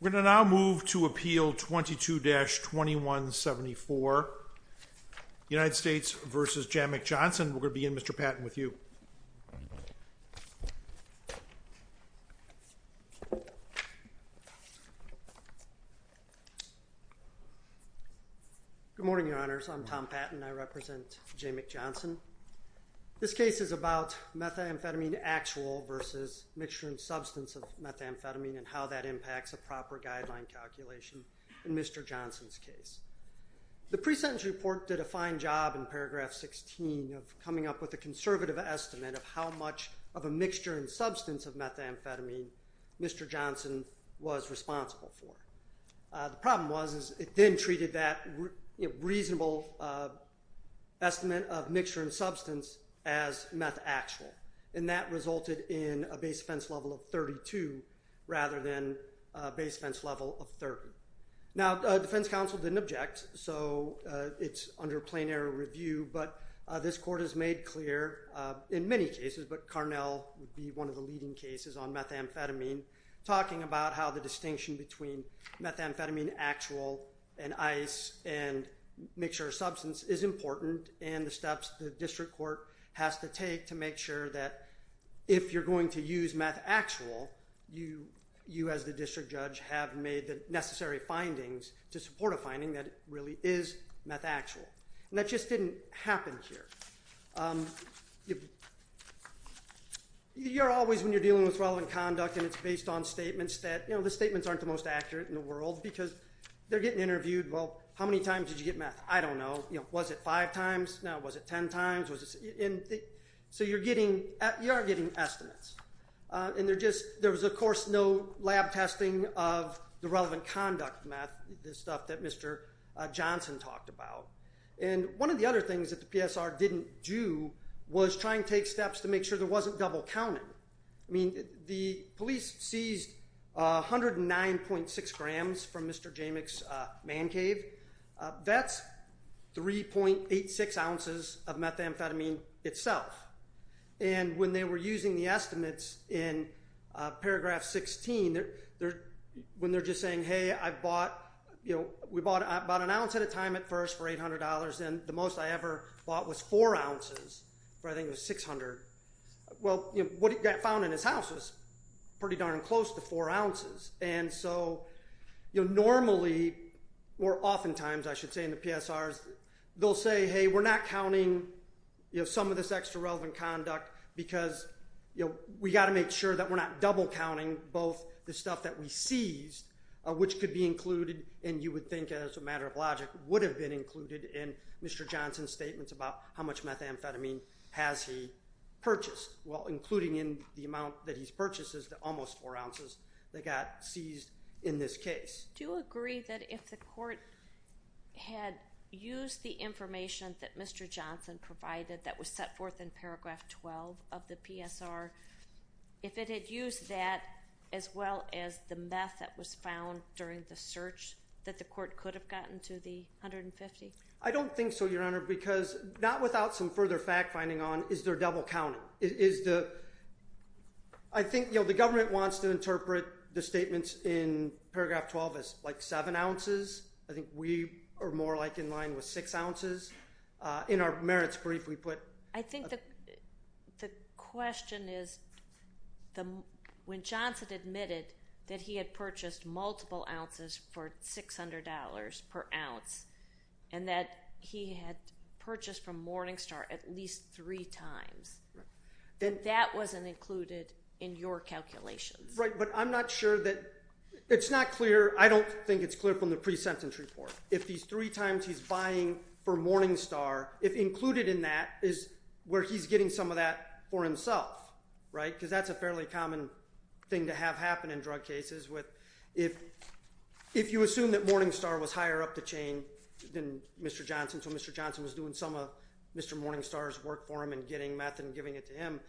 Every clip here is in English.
We're going to now move to Appeal 22-2174. United States v. Jamic Johnson. We're going to begin, Mr. Patton, with you. Good morning, Your Honors. I'm Tom Patton. I represent Jamic Johnson, and I'm going to talk to you today about the difference between a reasonable versus mixture and substance of methamphetamine, and how that impacts a proper guideline calculation in Mr. Johnson's case. The pre-sentence report did a fine job in paragraph 16 of coming up with a conservative estimate of how much of a mixture and substance of methamphetamine Mr. Johnson was responsible for. The problem was is it then treated that reasonable estimate of mixture and substance as methaxyl, and that resulted in a base offense level of 32 rather than a base offense level of 30. Now, the defense counsel didn't object, so it's under plenary review, but this court has made clear in many cases, but Carnell would be one of the leading cases on methamphetamine, talking about how the distinction between court has to take to make sure that if you're going to use methaxyl, you as the district judge have made the necessary findings to support a finding that it really is methaxyl. That just didn't happen here. You're always, when you're dealing with relevant conduct and it's based on statements that, you know, the statements aren't the most accurate in the world because they're getting interviewed, well, how many times did you get meth? I don't know. Was it five times? No. Was it ten times? So you're getting, you are getting estimates. And there just, there was of course no lab testing of the relevant conduct meth, the stuff that Mr. Johnson talked about. And one of the other things that the PSR didn't do was try and take steps to make sure there wasn't double counting. I mean, the police seized 109.6 grams from Mr. Jamek's man cave. That's 3.86 ounces of methamphetamine itself. And when they were using the estimates in paragraph 16, when they're just saying, hey, I've bought, you know, we bought about an ounce at a time at first for $800 and the most I ever bought was four ounces for I think it was 600. Well, you know, what he got found in his house was pretty darn close to four ounces. And so, you know, normally or oftentimes I should say in the PSRs, they'll say, hey, we're not counting, you know, some of this extra relevant conduct because, you know, we got to make sure that we're not double counting both the stuff that we seized, which could be included and you would think as a matter of logic would have been included in Mr. Johnson's statements about how much the amount that he's purchased is almost four ounces that got seized in this case. Do you agree that if the court had used the information that Mr. Johnson provided that was set forth in paragraph 12 of the PSR, if it had used that as well as the meth that was found during the search that the court could have gotten to the 150? I don't think so, Your Honor, because not without some further fact finding on is there double counting. I think, you know, the government wants to interpret the statements in paragraph 12 as like seven ounces. I think we are more like in line with six ounces. In our merits brief we put... I think the question is when Johnson admitted that he had purchased multiple ounces for $600 per ounce and that he had purchased from Morningstar. That wasn't included in your calculations. Right, but I'm not sure that... It's not clear. I don't think it's clear from the pre-sentence report. If these three times he's buying for Morningstar, if included in that is where he's getting some of that for himself, right? Because that's a fairly common thing to have happen in drug cases. If you assume that Morningstar was higher up the chain than Mr. Johnson, so Mr. Johnson was doing some of Mr. Morningstar's work for him and getting meth and giving it to him,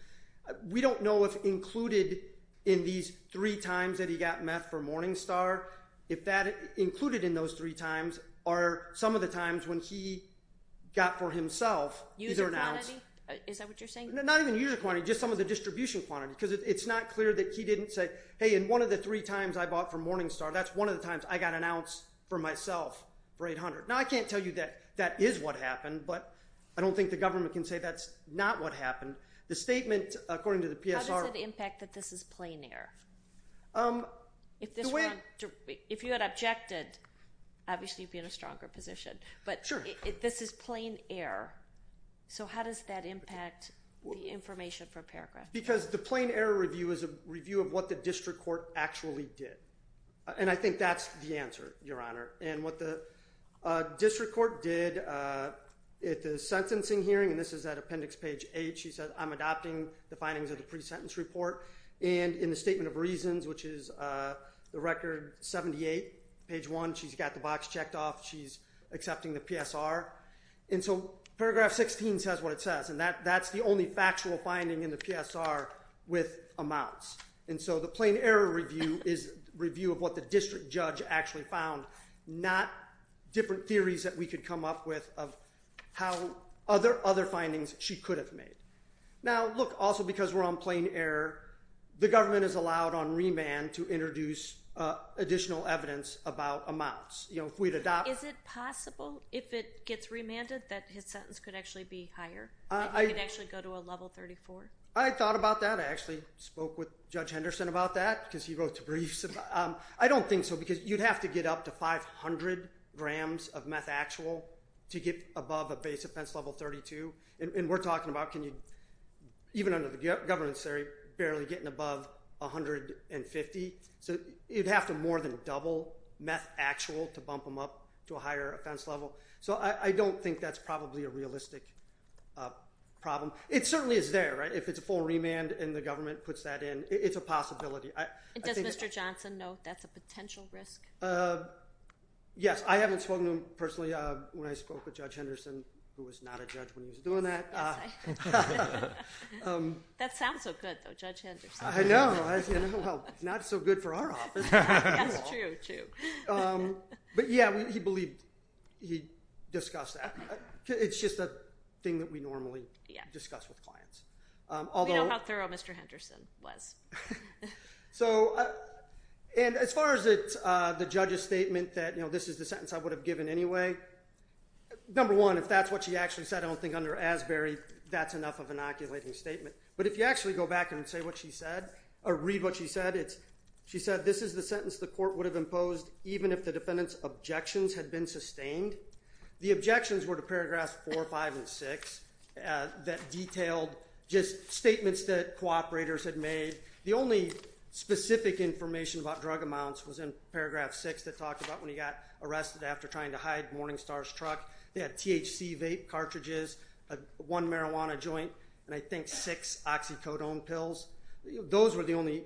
we don't know if included in these three times that he got meth for Morningstar, if that included in those three times are some of the times when he got for himself either an ounce... User quantity? Is that what you're saying? Not even user quantity, just some of the distribution quantity because it's not clear that he didn't say, hey, in one of the three times I bought for Morningstar, that's one of the times I can't tell you that that is what happened, but I don't think the government can say that's not what happened. The statement, according to the PSR... How does it impact that this is plain error? If you had objected, obviously you'd be in a stronger position, but this is plain error, so how does that impact the information for paragraph two? Because the plain error review is a review of what the district court actually did, and I think that's the answer, Your Honor, and what the district court did at the sentencing hearing, and this is at appendix page eight, she said, I'm adopting the findings of the pre-sentence report, and in the statement of reasons, which is the record 78, page one, she's got the box checked off, she's accepting the PSR, and so paragraph 16 says what it says, and that's the only factual finding in the PSR with amounts, and so the plain error review is a review of what the district judge actually found, not different theories that we could come up with of how other findings she could have made. Now, look, also because we're on plain error, the government is allowed on remand to introduce additional evidence about amounts. Is it possible, if it gets remanded, that his sentence could actually be higher, that he could actually go to a level 34? I thought about that. I actually spoke with because you'd have to get up to 500 grams of methaxyl to get above a base offense level 32, and we're talking about, even under the governance theory, barely getting above 150, so you'd have to more than double methaxyl to bump him up to a higher offense level, so I don't think that's probably a realistic problem. It certainly is there, right? If it's a full remand and the government puts that in, it's a possibility. Does Mr. Johnson know that's a potential risk? Yes. I haven't spoken to him personally when I spoke with Judge Henderson, who was not a judge when he was doing that. That sounds so good, though, Judge Henderson. I know. Well, not so good for our office. That's true. But, yeah, he believed he discussed that. It's just a thing that we normally discuss with clients. We know how thorough Mr. Henderson was. As far as the judge's statement that this is the sentence I would have given anyway, number one, if that's what she actually said, I don't think under Asbury that's enough of an oculating statement, but if you actually go back and read what she said, she said this is the sentence the court would have imposed even if the defendant's objections had been sustained. The objections were to Paragraphs 4, 5, and 6 that detailed just statements that cooperators had made. The only specific information about drug amounts was in Paragraph 6 that talked about when he got arrested after trying to hide Morningstar's truck. They had THC vape cartridges, one marijuana joint, and I think six oxycodone pills. Those were the only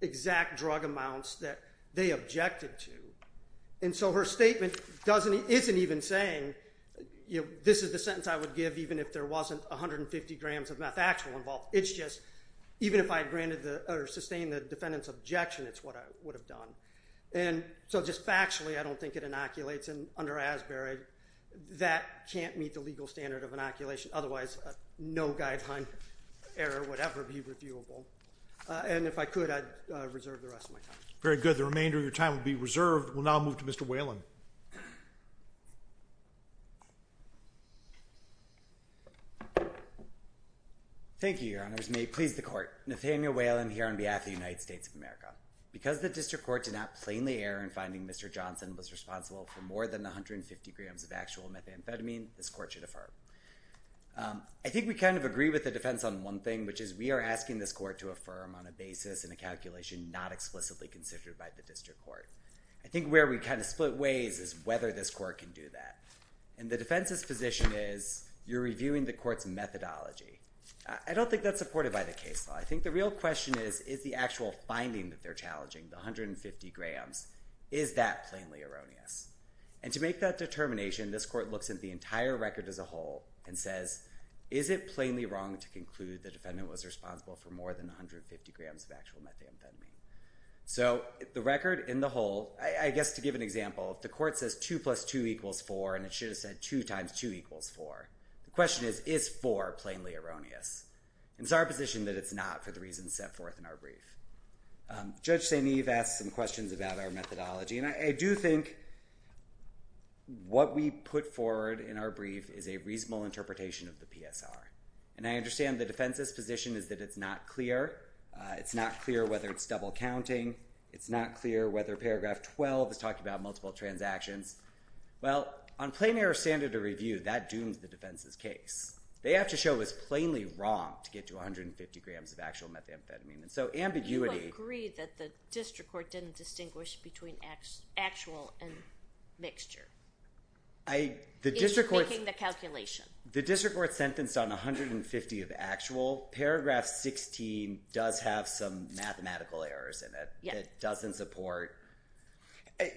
exact drug amounts that they objected to. And so her statement isn't even saying this is the sentence I would give even if there wasn't 150 grams of methaxyl involved. It's just even if I had granted or sustained the defendant's objection, it's what I would have done. And so just factually, I don't think it inoculates. And under Asbury, that can't meet the legal standard of inoculation. Otherwise, no guideline error would ever be reviewable. And if I could, I'd reserve the rest of my time. Very good. The remainder of your time will be reserved. We'll now move to Mr. Whalen. Thank you, Your Honors. May it please the court. Nathaniel Whalen here on behalf of the United States of America. Because the district court did not plainly err in finding Mr. Johnson was responsible for more than 150 grams of actual methamphetamine, this court should affirm. I think we kind of agree with the defense on one thing, which is we are asking this court to affirm on a basis and a calculation not explicitly considered by the district court. I think where we kind of split ways is whether this court can do that. And the defense's position is you're reviewing the court's methodology. I don't think that's supported by the case law. I think the real question is, is the actual finding that they're challenging, the 150 grams, is that plainly erroneous? And to make that determination, this court looks at the entire record as a whole and says, is it plainly wrong to conclude the defendant was responsible for more than 150 grams of actual methamphetamine? So the record in the whole, I guess to give an example, if the court says 2 plus 2 equals 4, and it should have said 2 times 2 equals 4, the question is, is 4 plainly erroneous? And it's our position that it's not for the reasons set forth in our brief. Judge St. Eve asked some questions about our methodology. And I do think what we put forward in our brief is a reasonable interpretation of the PSR. And I understand the defense's position is that it's not clear. It's not clear whether it's double counting. It's not clear whether paragraph 12 is talking about multiple transactions. Well, on plain error standard of review, that dooms the defense's case. They have to show it was plainly wrong to get to 150 grams of actual methamphetamine. And so ambiguity. You agree that the district court didn't distinguish between actual and mixture? The district court is making the calculation. The district court sentenced on 150 of actual. Paragraph 16 does have some mathematical errors in it. It doesn't support.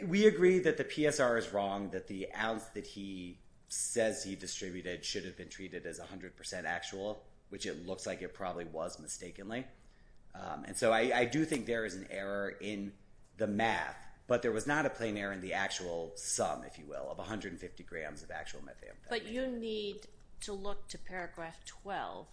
We agree that the PSR is wrong, that the ounce that he says he distributed should have been treated as 100% actual, which it looks like it probably was mistakenly. And so I do think there is an error in the math. But there was not a plain error in the actual sum, if you will, of 150 grams of actual methamphetamine. But you need to look to paragraph 12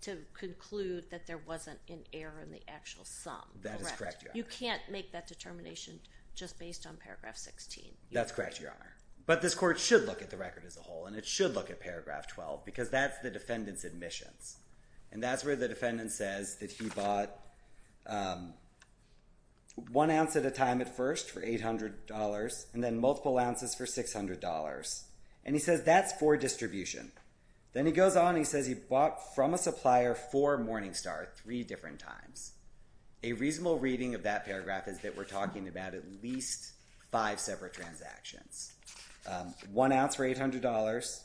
to conclude that there wasn't an error in the actual sum. That is correct, Your Honor. You can't make that determination just based on paragraph 16. That's correct, Your Honor. But this court should look at the record as a whole. And it should look at paragraph 12 because that's the defendant's admissions. And that's where the defendant says that he bought one ounce at a time at first for $800 and then multiple ounces for $600. And he says that's for distribution. Then he goes on and he says he bought from a supplier for Morningstar three different times. A reasonable reading of that paragraph is that we're talking about at least five separate transactions. One ounce for $800,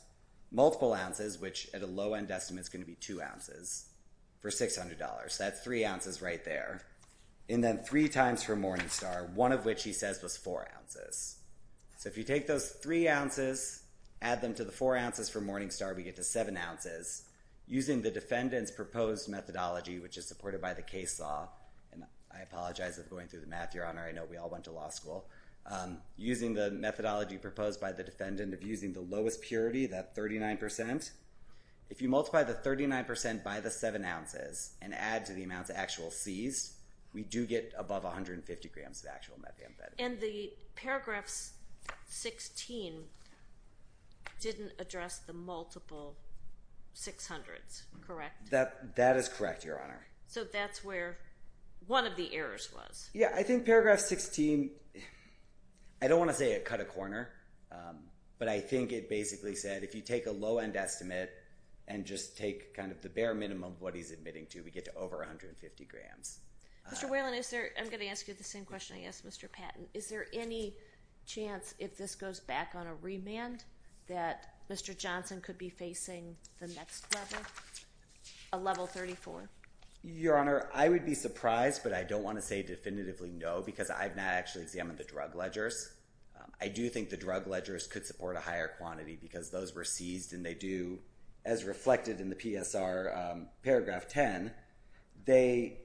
multiple ounces, which at a low-end estimate is going to be two ounces, for $600. That's three ounces right there. And then three times for Morningstar, one of which he says was four ounces. So if you take those three ounces, add them to the four ounces for Morningstar, we get to seven ounces. Using the defendant's proposed methodology, which is supported by the case law, and I apologize for going through the math, Your Honor. I know we all went to law school. Using the methodology proposed by the defendant of using the lowest purity, that 39 percent, if you multiply the 39 percent by the seven ounces and add to the amount of actual seized, we do get above 150 grams of actual methamphetamine. And the paragraph 16 didn't address the multiple 600s, correct? That is correct, Your Honor. So that's where one of the errors was. Yeah, I think paragraph 16, I don't want to say it cut a corner, but I think it basically said if you take a low-end estimate and just take kind of the bare minimum of what he's admitting to, we get to over 150 grams. Mr. Whalen, I'm going to ask you the same question I asked Mr. Patton. Is there any chance if this goes back on a remand that Mr. Johnson could be facing the next level, a level 34? Your Honor, I would be surprised, but I don't want to say definitively no because I've not actually examined the drug ledgers. I do think the drug ledgers could support a higher quantity because those were seized and they do, as reflected in the PSR paragraph 10, they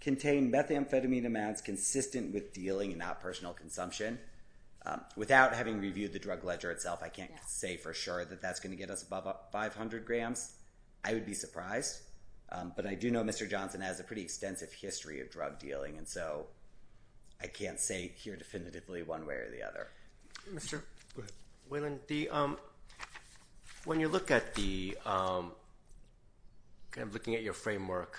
contain methamphetamine amounts consistent with dealing and not personal consumption. Without having reviewed the drug ledger itself, I can't say for sure that that's going to get us above 500 grams. I would be surprised, but I do know Mr. Johnson has a pretty extensive history of drug dealing, and so I can't say here definitively one way or the other. Mr. Whalen, when you look at the kind of looking at your framework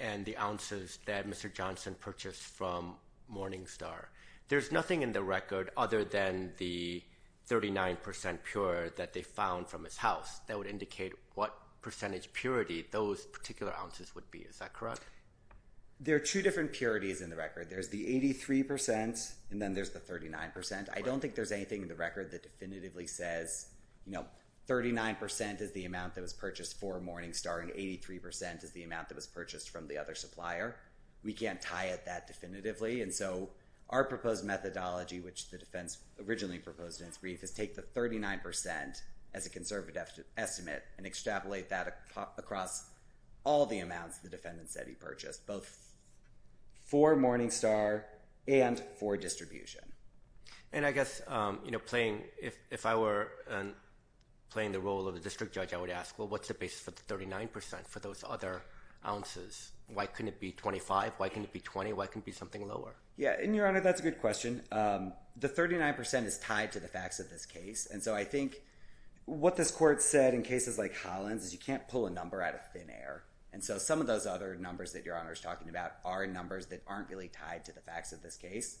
and the ounces that Mr. Johnson purchased from Morningstar, there's nothing in the record other than the 39% pure that they found from his house that would indicate what percentage purity those particular ounces would be. Is that correct? There are two different purities in the record. There's the 83% and then there's the 39%. I don't think there's anything in the record that definitively says 39% is the amount that was purchased for Morningstar and 83% is the amount that was purchased from the other supplier. We can't tie it that definitively, and so our proposed methodology, which the defense originally proposed in its brief, is take the 39% as a conservative estimate and extrapolate that across all the amounts the defendant said he purchased, both for Morningstar and for distribution. And I guess if I were playing the role of the district judge, I would ask, well, what's the basis for the 39% for those other ounces? Why couldn't it be 25? Why couldn't it be 20? Why couldn't it be something lower? Yeah, and, Your Honor, that's a good question. The 39% is tied to the facts of this case, and so I think what this court said in cases like Holland's is you can't pull a number out of thin air. And so some of those other numbers that Your Honor is talking about are numbers that aren't really tied to the facts of this case.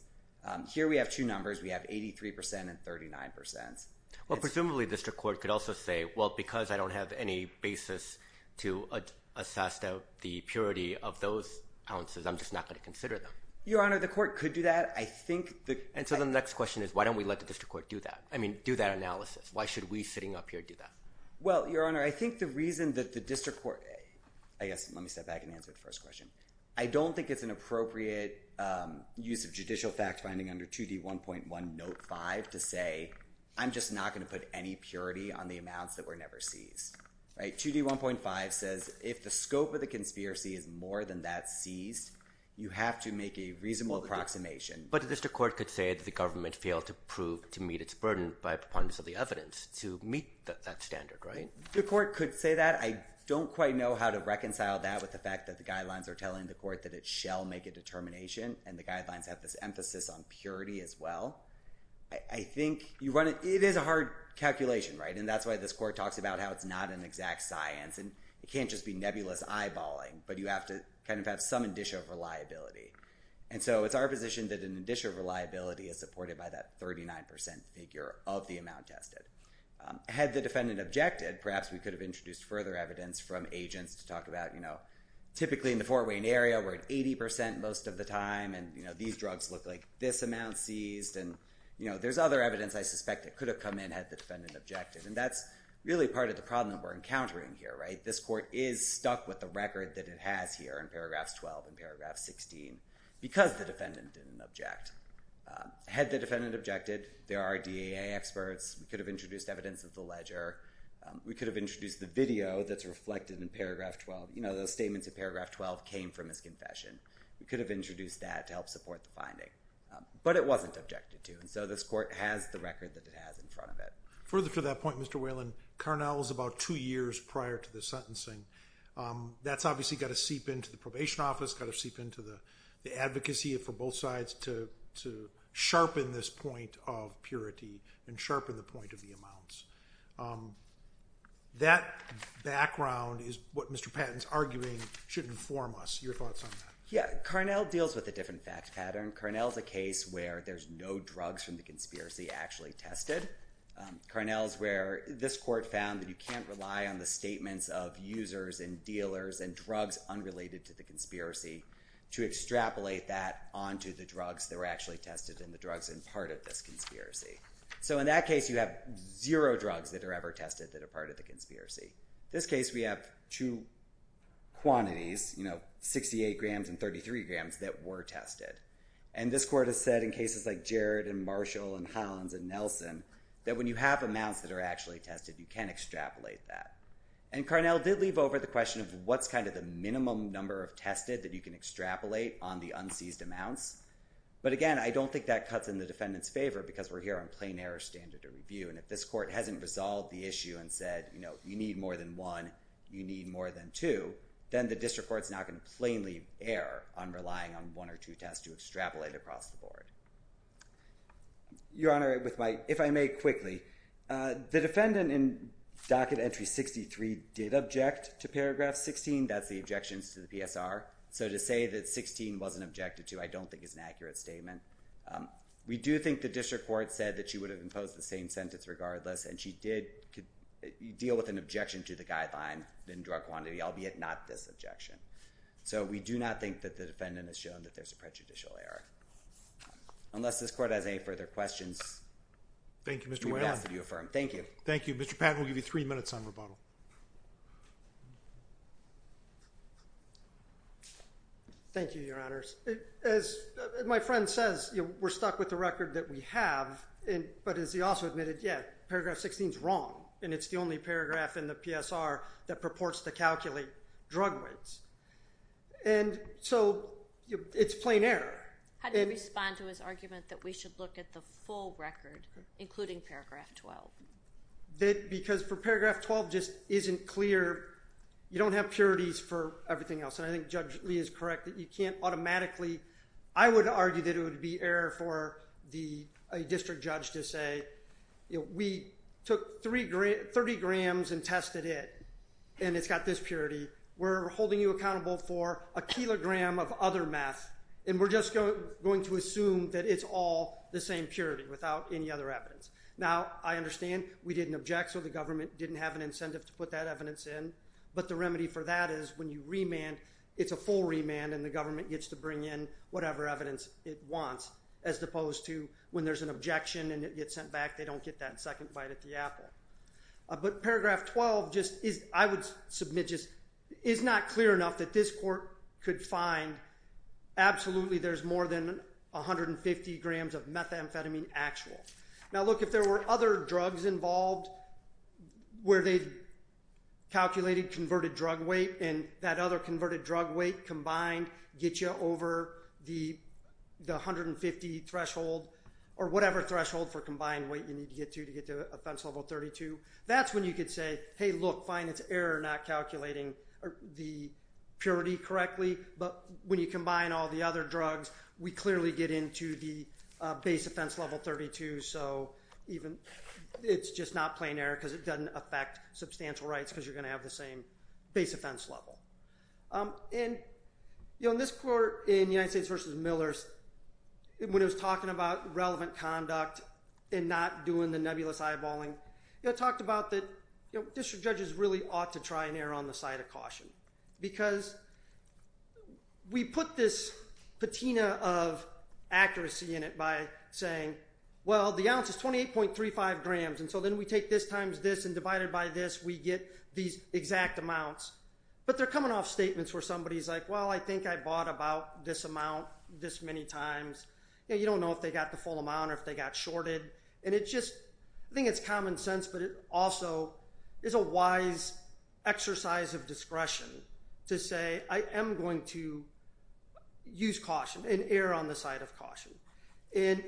Here we have two numbers. We have 83% and 39%. Well, presumably the district court could also say, well, because I don't have any basis to assess the purity of those ounces, I'm just not going to consider them. Your Honor, the court could do that. I think the— And so the next question is why don't we let the district court do that? I mean do that analysis. Why should we sitting up here do that? Well, Your Honor, I think the reason that the district court— I guess let me step back and answer the first question. I don't think it's an appropriate use of judicial fact-finding under 2D1.1 Note 5 to say I'm just not going to put any purity on the amounts that were never seized. 2D1.5 says if the scope of the conspiracy is more than that seized, you have to make a reasonable approximation. But the district court could say that the government failed to prove to meet its burden by preponderance of the evidence to meet that standard, right? The court could say that. I don't quite know how to reconcile that with the fact that the guidelines are telling the court that it shall make a determination, and the guidelines have this emphasis on purity as well. I think you run—it is a hard calculation, right? And that's why this court talks about how it's not an exact science, and it can't just be nebulous eyeballing, but you have to kind of have some indicia of reliability. And so it's our position that an indicia of reliability is supported by that 39% figure of the amount tested. Had the defendant objected, perhaps we could have introduced further evidence from agents to talk about, typically in the Fort Wayne area, we're at 80% most of the time, and these drugs look like this amount seized, and there's other evidence I suspect that could have come in had the defendant objected. And that's really part of the problem that we're encountering here, right? This court is stuck with the record that it has here in paragraphs 12 and paragraph 16 because the defendant didn't object. Had the defendant objected, there are DAA experts. We could have introduced evidence of the ledger. We could have introduced the video that's reflected in paragraph 12. You know, those statements in paragraph 12 came from his confession. We could have introduced that to help support the finding. But it wasn't objected to, and so this court has the record that it has in front of it. Further to that point, Mr. Whalen, Carnell was about two years prior to the sentencing. That's obviously got to seep into the probation office, got to seep into the advocacy for both sides to sharpen this point of purity and sharpen the point of the amounts. That background is what Mr. Patton's arguing should inform us. Your thoughts on that? Yeah, Carnell deals with a different fact pattern. Carnell's a case where there's no drugs from the conspiracy actually tested. Carnell's where this court found that you can't rely on the statements of users and dealers and drugs unrelated to the conspiracy to extrapolate that onto the drugs that were actually tested and the drugs in part of this conspiracy. So in that case, you have zero drugs that are ever tested that are part of the conspiracy. In this case, we have two quantities, 68 grams and 33 grams, that were tested. And this court has said in cases like Jared and Marshall and Hans and Nelson that when you have amounts that are actually tested, you can extrapolate that. And Carnell did leave over the question of what's kind of the minimum number of tested that you can extrapolate on the unseized amounts. But again, I don't think that cuts in the defendant's favor because we're here on plain error standard of review. And if this court hasn't resolved the issue and said, you know, you need more than one, you need more than two, then the district court's not going to plainly err on relying on one or two tests to extrapolate across the board. Your Honor, if I may quickly, the defendant in docket entry 63 did object to paragraph 16. That's the objections to the PSR. So to say that 16 wasn't objected to I don't think is an accurate statement. We do think the district court said that she would have imposed the same sentence regardless and she did deal with an objection to the guideline in drug quantity, albeit not this objection. So we do not think that the defendant has shown that there's a prejudicial error. Unless this court has any further questions, we would ask that you affirm. Thank you. Thank you. Mr. Patton, we'll give you three minutes on rebuttal. Thank you, Your Honors. As my friend says, we're stuck with the record that we have, but as he also admitted, yeah, paragraph 16's wrong and it's the only paragraph in the PSR that purports to calculate drug weights. And so it's plain error. How do you respond to his argument that we should look at the full record, including paragraph 12? Because for paragraph 12 just isn't clear. You don't have purities for everything else, and I think Judge Lee is correct that you can't automatically, I would argue that it would be error for a district judge to say, we took 30 grams and tested it, and it's got this purity. We're holding you accountable for a kilogram of other meth, and we're just going to assume that it's all the same purity without any other evidence. Now, I understand we didn't object, so the government didn't have an incentive to put that evidence in, but the remedy for that is when you remand, it's a full remand, and the government gets to bring in whatever evidence it wants, as opposed to when there's an objection and it gets sent back, they don't get that second bite at the apple. But paragraph 12 just is, I would submit, just is not clear enough that this court could find absolutely there's more than 150 grams of methamphetamine actual. Now, look, if there were other drugs involved where they calculated converted drug weight, and that other converted drug weight combined gets you over the 150 threshold, or whatever threshold for combined weight you need to get to to get to offense level 32, that's when you could say, hey, look, fine, it's error not calculating the purity correctly, but when you combine all the other drugs, we clearly get into the base offense level 32, so it's just not plain error because it doesn't affect substantial rights because you're going to have the same base offense level. In this court, in United States v. Millers, when it was talking about relevant conduct and not doing the nebulous eyeballing, it talked about that district judges really ought to try and err on the side of caution because we put this patina of accuracy in it by saying, well, the ounce is 28.35 grams, and so then we take this times this and divide it by this, we get these exact amounts. But they're coming off statements where somebody's like, well, I think I bought about this amount this many times. You don't know if they got the full amount or if they got shorted. I think it's common sense, but it also is a wise exercise of discretion to say I am going to use caution and err on the side of caution, and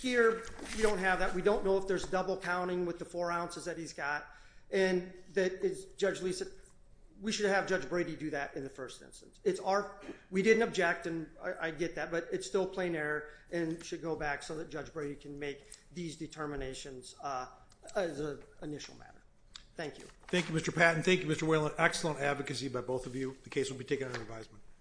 here we don't have that. We don't know if there's double counting with the four ounces that he's got, and Judge Lisa, we should have Judge Brady do that in the first instance. We didn't object, and I get that, but it's still plain error and should go back so that Judge Brady can make these determinations as an initial matter. Thank you. Thank you, Mr. Patton. Thank you, Mr. Whalen. Excellent advocacy by both of you. The case will be taken under advisement.